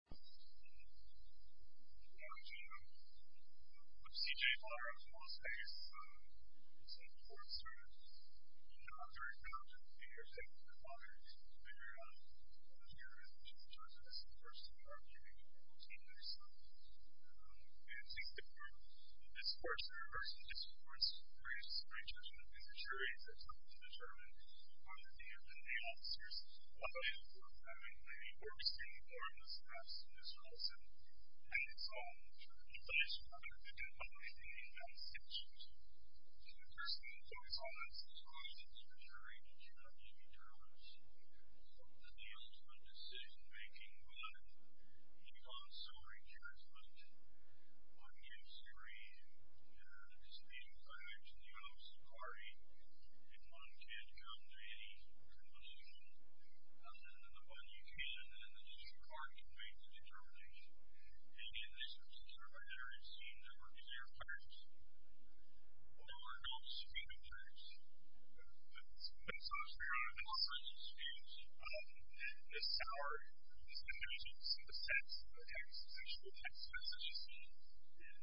Well, um, with CJ's Lawyer, I was going to say, um, it's important to, you know, I'm very proud to be here today with your father, and I'm very honored to be here as the Chief Judge of this court, so we are meeting for the 14th of this month. Um, and since the court, this court, the reversal of this court, creates a strange notion of immaturity that's hard to determine. One of the things that the officers of this court have in common is that he works to inform the staffs of his house, and has his own sort of advice for them, that they can publish in the investigations. And the person who's always on this court is Attorney General Jimmy Thomas. He's one that deals with decision-making, but he becomes so recursive that one can scream at his meeting times in the office of the party if one can't come to any conclusion other than the one you can, and then the district court can make the determination. And in this sort of determinatory scene that we're in, there are pirates. Well, there are no secret pirates. That's, that's what I was trying to say. There are no secret pirates. Um, and it's sour. This is the text, the text, the text, the text, the text, the text, the text, the text.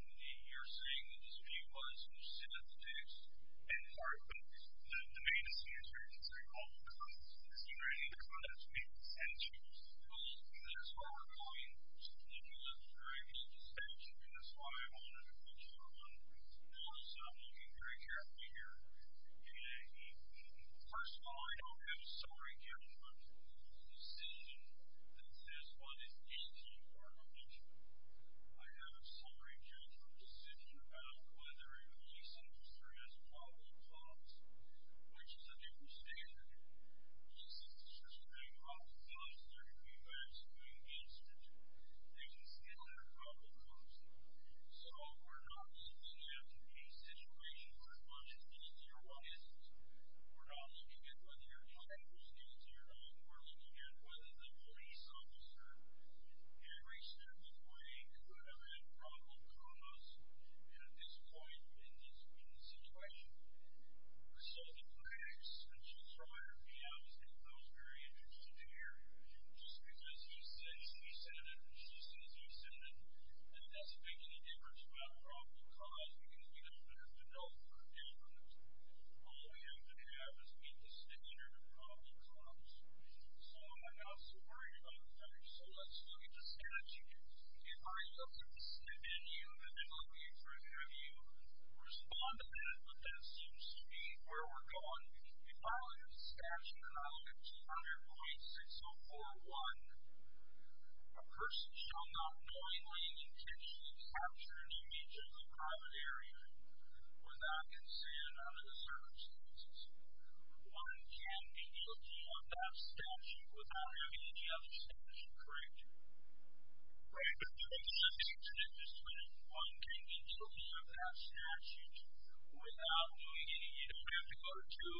And you're saying that this view was, you're saying that the text and part of the, the, the main scene is very, very, very common, because it's the same reading, it's the same sentence, it's the same rule, and that's why we're going to look at the very basic steps, and that's why I wanted to put you on, uh, looking very carefully here. Okay. First of all, I don't have a summary judgment decision that says what is guilty or not guilty. I have a summary judgment decision about whether a police officer has a probable cause, which is a different standard. Police officers are not officers. They're going to be vaccinated. They can still have a probable cause. So, we're not looking at a situation where one is guilty or one isn't. We're not looking at whether you're talking who's guilty or not. We're looking at whether the police officer had reached their midway, could have had probable cause, and at this point, in this, in this situation. So, the facts that you throw at me, I was, I was very interested to hear. Just because you said, you said it, just because you said it, that doesn't make any difference about a probable cause, because we don't have a note for a definite. All we have to have is get the snippet or the probable cause. So, I'm not so worried about that. So, let's look at the statute. If I look at the snippet and you, and then I'll be interested to have you respond to that, but that seems to be where we're going. If we follow this statute in Article 200.604.1, a person shall not knowingly and intentionally capture an image of the private area without consent under the circumstances. One can be guilty of that statute without having any other statute correct. All right. So, let's look at this one. One can be guilty of that statute without doing any, you don't have to go to two.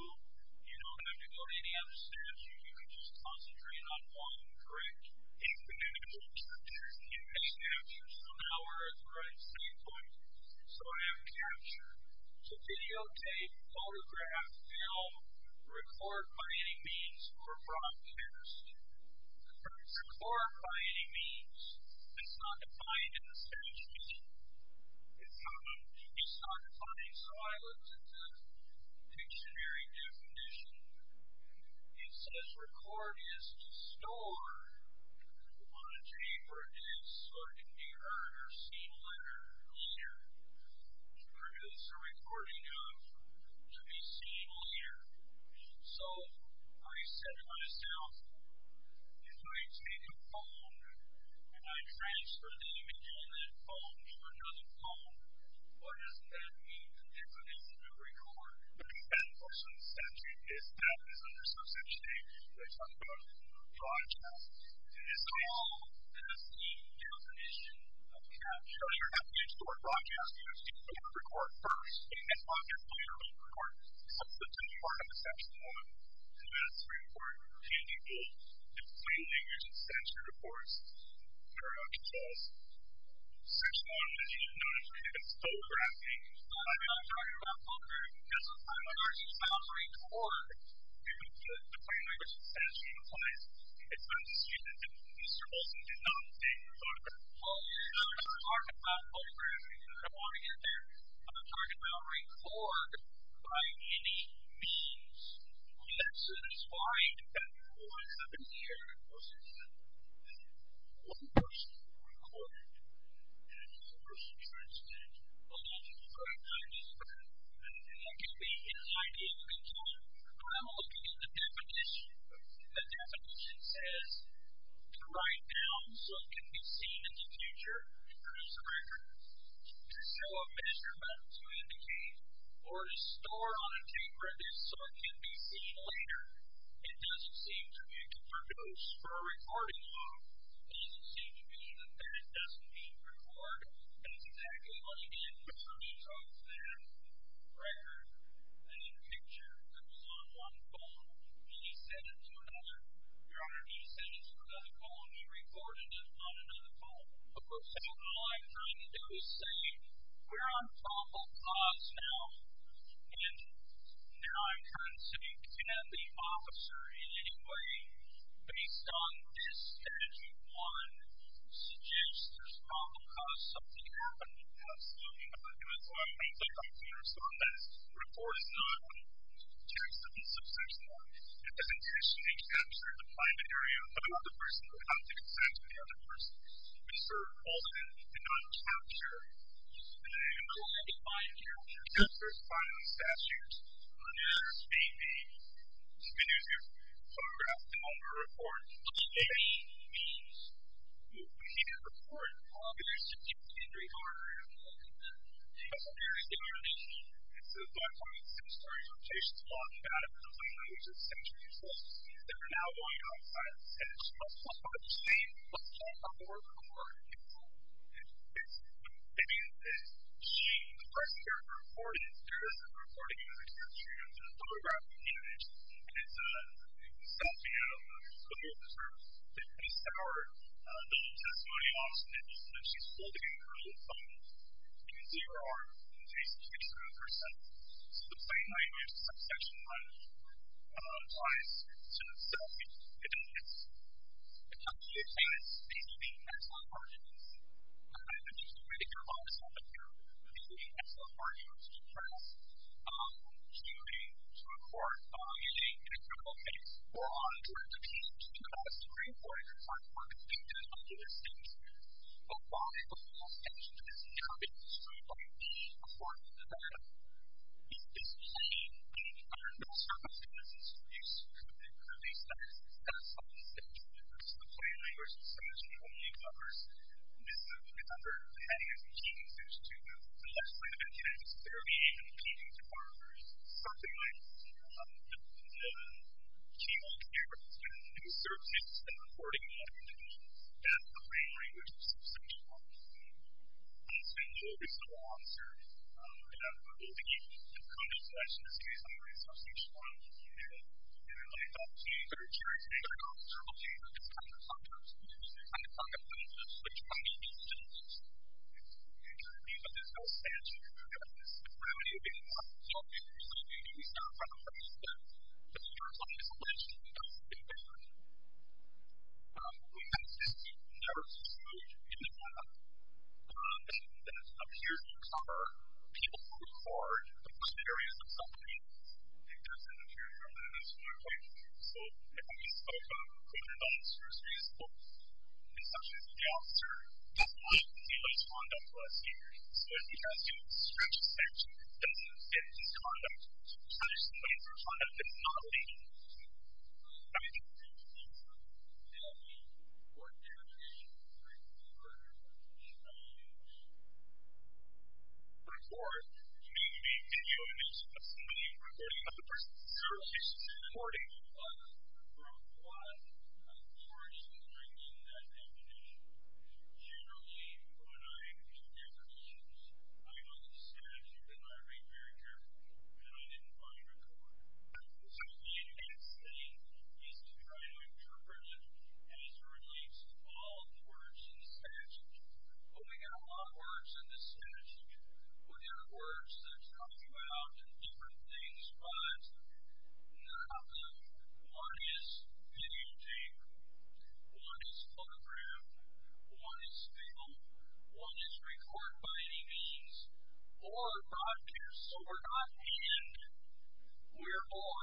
You don't have to go to any other statute. You can just concentrate on one, correct? If the image was captured in this statute, so now we're at the right standpoint. So, I have captured. To videotape, photograph, film, record by any means, or broadcast. Record by any means. It's not defined in the statute. It's not defined. So, I looked at the dictionary definition. It says record is to store on a tape or a disc so it can be heard or seen later. To produce a recording of, to be seen later. So, I said to myself, if I take a phone and I transfer the image on that phone to another phone, what does that mean? If it is to be recorded? That's what's in the statute. That is under subsection A. That's what's called broadcast. It is called, as the definition of capture. So, you're not going to store broadcast. You're going to store record first. So, that's part of the section one. So, that's very important. Can you use the plain language and censored, of course? I don't know what that is. Section one, as you've noticed, is photographing. So, I'm not talking about photographing. That's a primary sounding word. The plain language and censored implies it's been seen and Mr. Olsen did not take the photograph. So, I'm not talking about photographing. I don't want to get there. I'm talking about record by any means. We have to find that recording. I've been here, Mr. Olsen said. One person recorded and one person transcribed. Well, that's a great idea. That can be an idea. But I'm looking at the definition. The definition says to write down so it can be seen in the future, to produce a record, to show a measurement, to indicate, or to store on a tape record so it can be seen later. It doesn't seem to me to produce for a recording of. It doesn't seem to me that that doesn't mean record. That's exactly what he did. He took the record and the picture that was on one phone and he sent it to another. Your Honor, he sent it to another phone and he recorded it on another phone. So, all I'm trying to do is say we're on probable cause now, and now I'm trying to say can the officer in any way, based on this statute 1, suggest there's probable cause something happened? Absolutely not. It was on a computer. It was on this. The report is not, in terms of the subsection 1, it doesn't mention the capture of the private area of another person without the consent of the other person. Mr. Olsen did not capture. In the line defined here, the capture is defined in the statute, it appears to be the diminutive photographs that no one would record. It's a hidden record. It's a hidden record. It is a hidden record. It's a very hidden record. It's a 1.6 story location. It's a lot of data. It's a place that we just sent to you folks. They're now going outside and asking us what's going on with the scene. What's going on with the record? It's a hidden record. It's a hidden record. The person here is recording it. The person recording it is a photograph of the image. It's a selfie of the police officer, Tiffany Sauer, the testimony of Tiffany Sauer. She's holding her phone in her arms, facing to the side of her face. So the same language, subsection 1 applies to selfie. It doesn't. A couple of things. These are the excellent arguments. I'm not going to get too ridiculous on this one, but these are the excellent arguments. First, hearing, to record, editing, and a couple of things. We're on a direct appeal. It's a very important part of the state statute. But while the whole statute is now being destroyed by being a part of the state statute, it's the plain language of subsection 1 that covers this. It's under the heading of the Agencies, which to the left side of that text, 38, and the Agencies Department. Something like the team on camera who serves as the recording editor, that's the plain language of subsection 1. I'm going to spend a little bit of time on this. I'm going to give you a couple of questions based on the resource that you should want to look at. And I thought it would be very interesting to talk about the terminology that this comes up with. I thought it would be interesting to try to use it in a way that's in keeping with this whole statute. Because the gravity of being part of the state statute, you start from the point that the terms of the legislation that's in there, we have this narrative in the law that appears to cover people who record the criteria of subcommittees. It doesn't appear to cover this whole point. So if we spoke about recruitment officers, we spoke about subsections of the officer. It doesn't allow you to see those condoms last year. So if you guys can stretch the statute, it doesn't extend these condoms to punish somebody for a condom that's not legal. Okay. The next thing is to try to interpret it as it relates to all the words in the statute. But we got a lot of words in this statute. We got words that talk about different things. But not all of them. One is videotape. One is photograph. One is film. One is record by any means. Or broadcast. So we're not in. We're or.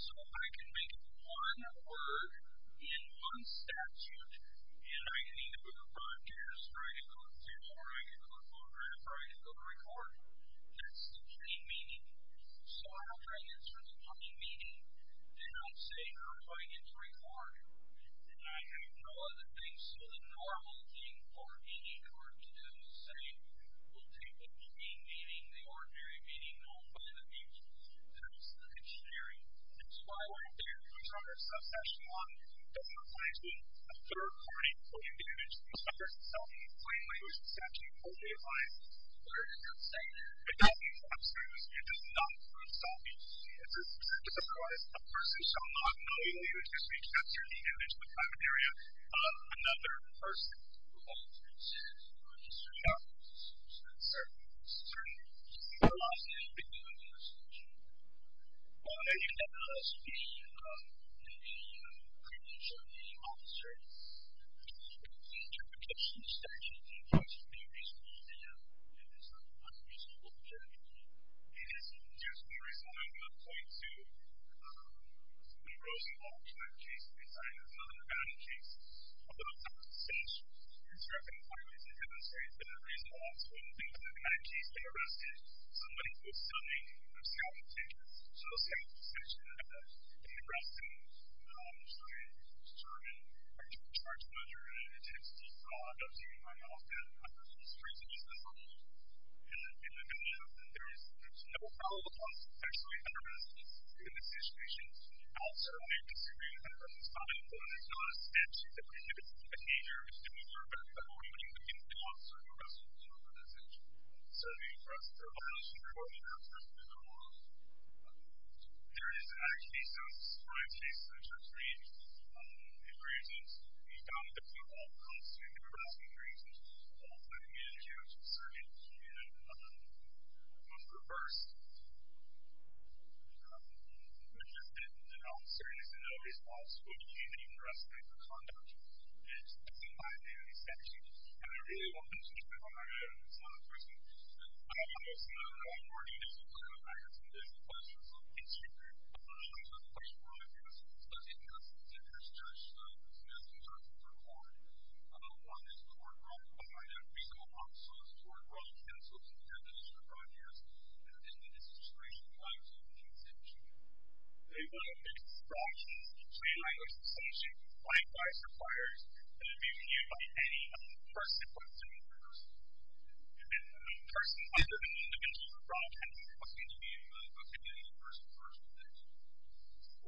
So I can make one word in one statute, and I can either go to broadcast, or I can go to film, or I can go to photograph, or I can go to record. That's the key meaning. So I'm trying to interpret the key meaning, and I'm saying I'm trying to record. And I have no other things. So the normal thing for any court to do is say, we'll take the key meaning, the ordinary meaning, known by the people. And sharing. That's why we're going to do it. We're going to talk about subsection 1. It doesn't apply to a third party, including the individual. It's a person's self-employed language exception. It only applies to a third party. It doesn't, absolutely, it does not apply to self-employed language. It's a surprise. A person shall not know the individual except through the individual's private area. Another person who has received a registered job is a person who has a certain degree of loss in the individual's registration. Well, maybe that has to be in the privilege of the officer. The interpretation of the statute includes being reasonable, and it's not unreasonable for the employee. It is reasonable. There's one reason I'm going to point to the Rosenwald trial case. It's not an abandoned case. Although it's been constructed in quite a way to demonstrate that the reason why it's one thing is that in that case, they arrested somebody who was submitting self-intentions. So self-intentions are the arrestings, which I determine are due to charge measure and an intensity of fraud. I'm assuming I'm not off that. I'm assuming it's reasonable. And in the case, there's no follow-up on sexually harassed individuals. In this situation, I'll certainly disagree with that, but it's not important. It's not a statute that prohibits behavior that would involve sexual harassment. So the arrest for violation or the arrest for sexual harassment is not a law. There is an actual case, a crime case, which I've read. It raises, we found that people constitute the arresting reasons by being accused of sexual harassment in another way. It was reversed. It just didn't. The officer is in no response to being arrested for conduct. It's a binary section. And I really want to touch upon some of the recent cases. Obviously, I'm not reporting this, but I have some busy questions, so I'll get to you. I have a question for all of you. This is a specific case. It has two charges. It has two charges. There are four. One is court-run. One of them is reasonable. Also, it's court-run. It cancels if you have additional priors in this situation prior to the conviction. They want to fix the fraud case in plain language. Essentially, plain language requires that it be reviewed by any person who has committed the crime. And when a person under the name of the victim of a fraud case is looking to be removed, what can you do in regards to that?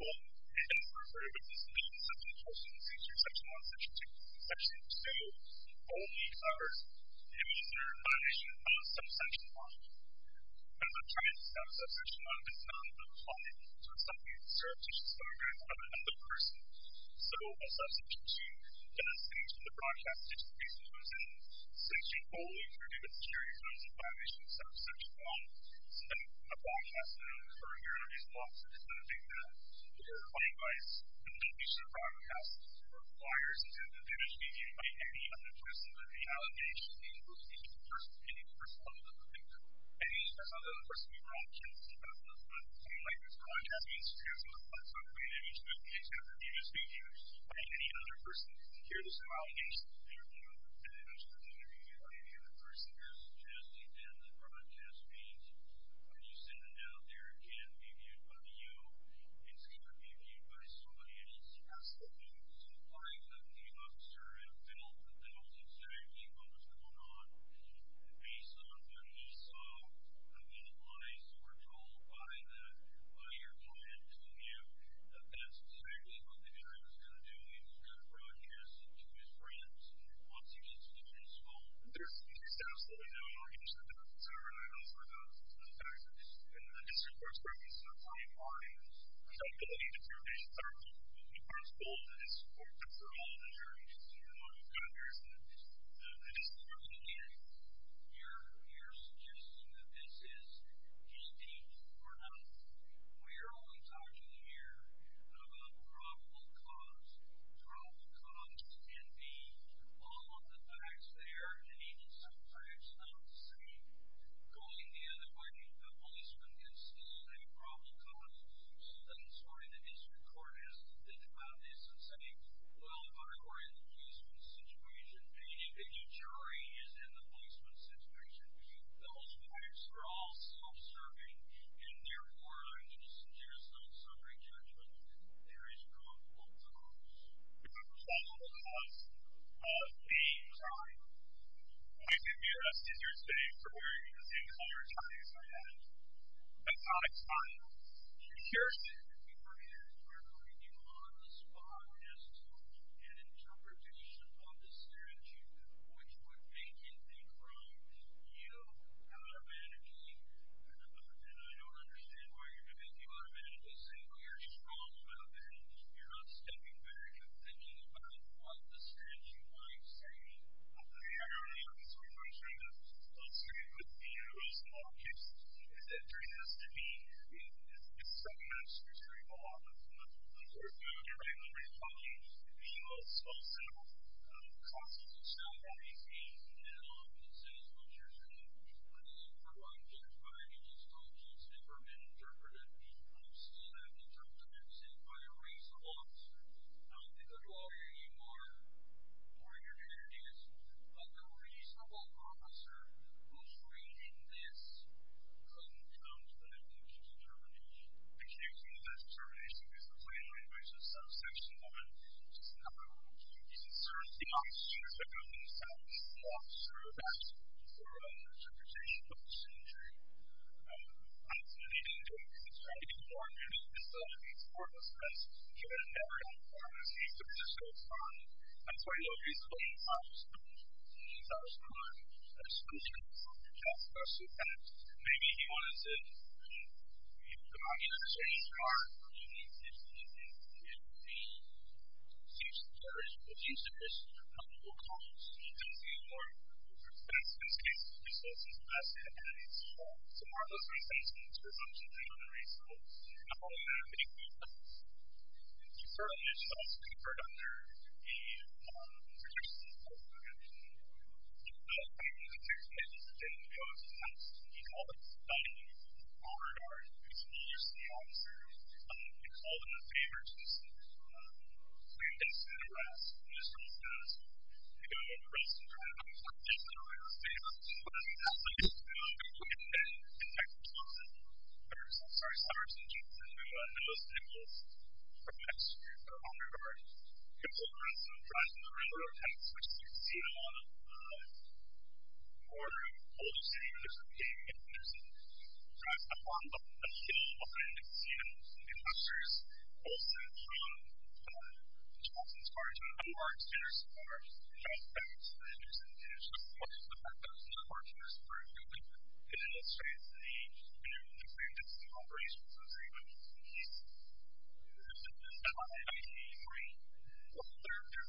Well, it is referred to in Section 1, Section 2, Section 1, Section 2. In Section 2, only are the offenders punished on subsection 1. At that time, subsection 1 does not apply to somebody who served as a beneficiary of another person. So, in subsection 2, it does change from the broadcast to just the case that goes in. Essentially, only the beneficiary comes in violation of subsection 1. So then, the broadcaster or your interviewee will often do something that requires the deletion of broadcast priors intended to be reviewed by any other person under the allegation being removed in regards to any person under the name of the victim. Any other person who is not in the broadcast does not seem like this broadcast means to have a subpoena in respect of the interviewee's behavior by any other person who can hear this allegation being removed in regards to the interviewee by any other person who is interested in the broadcast being presented out there can be viewed by you instead of being viewed by somebody else. As the compliance of the officer felt that that was exactly what was going on and based on what he saw and realized or told by your client to him that that's exactly what the guy was going to do. He was going to broadcast it to his friends. What's your constituents fault? There's absolutely no interest in the fact that the district court's purpose is to outline the ability to do these things. The principle of the district court is to allow the jury to do what they want to do and to allow the jury to do what they want to do and to allow the jury to do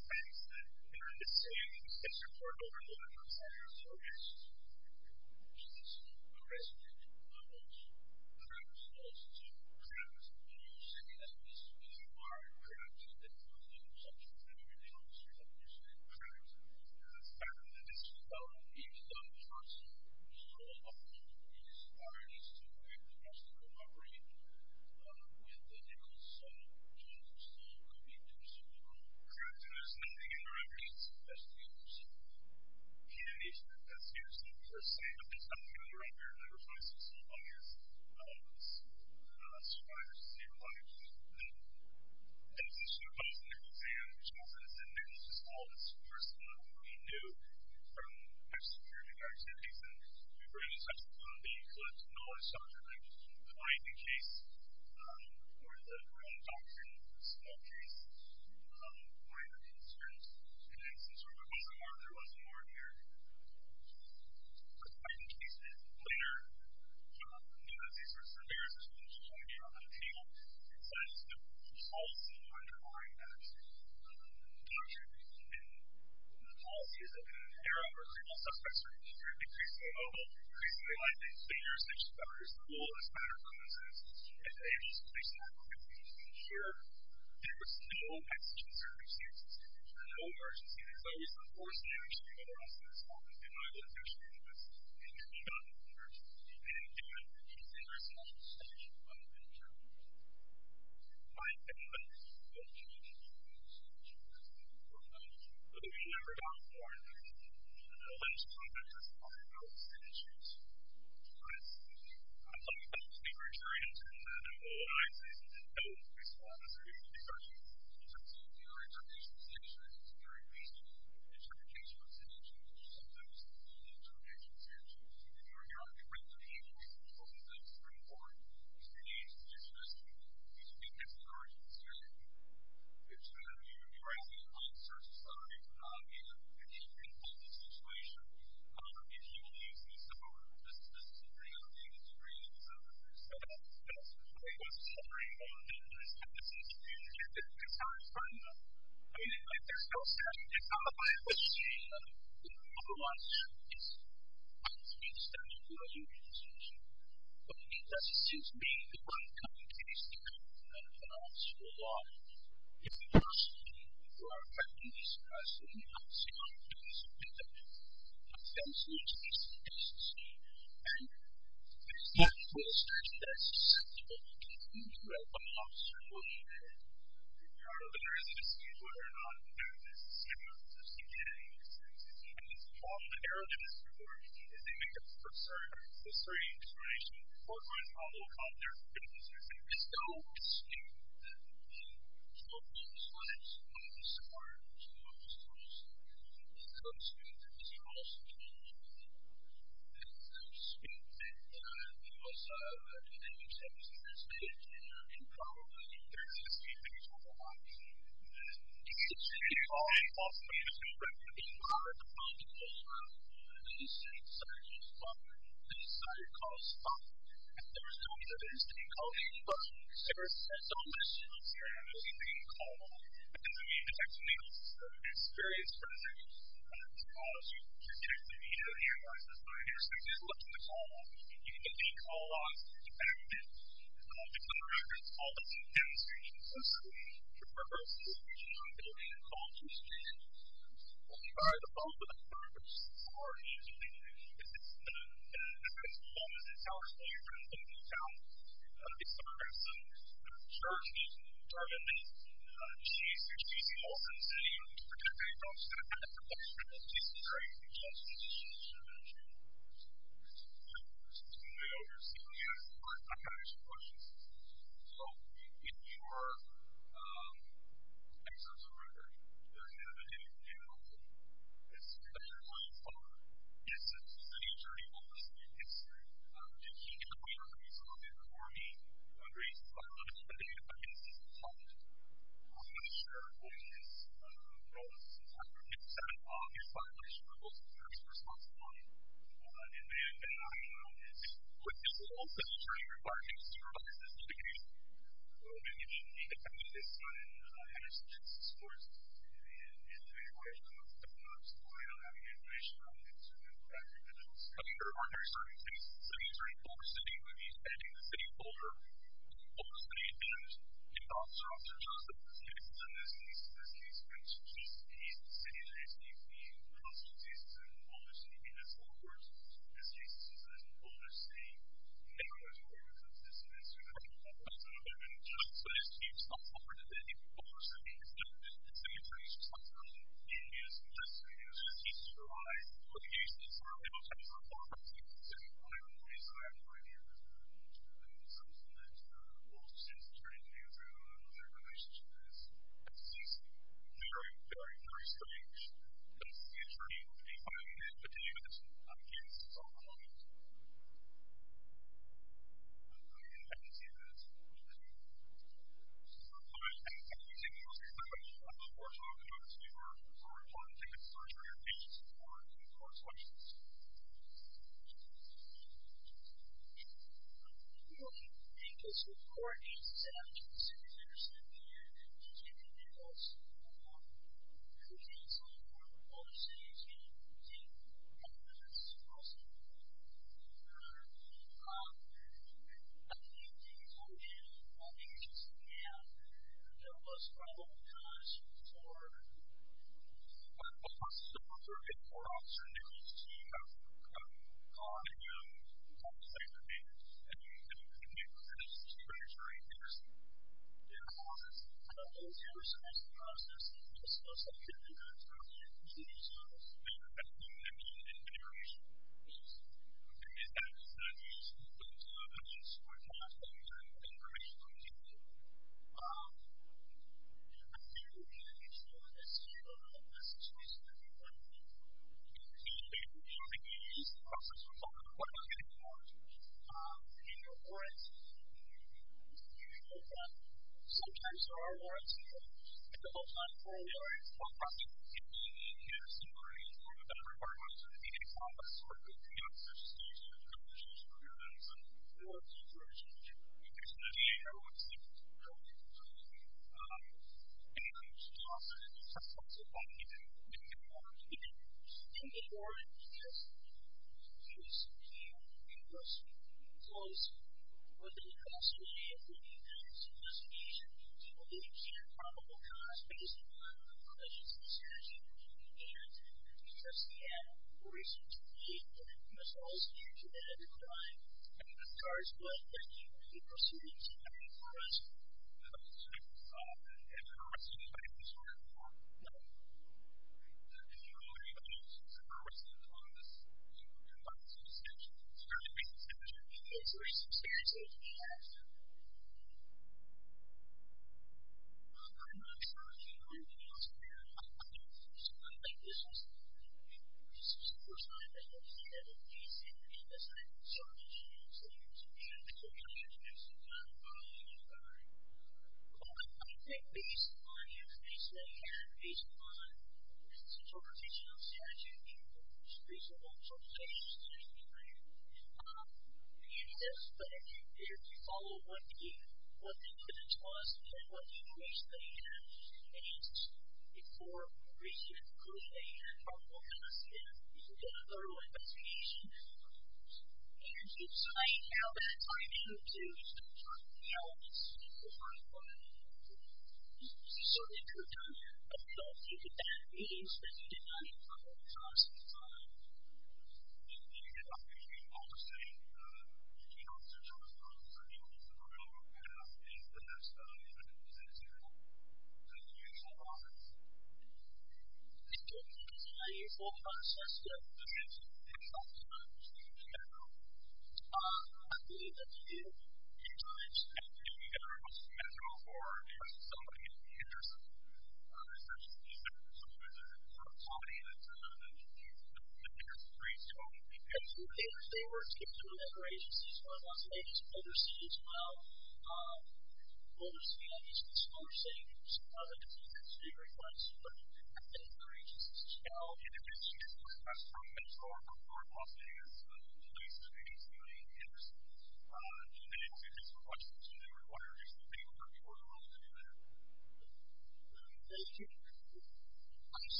what they want to do and allow the jury to do what they want to do. Thank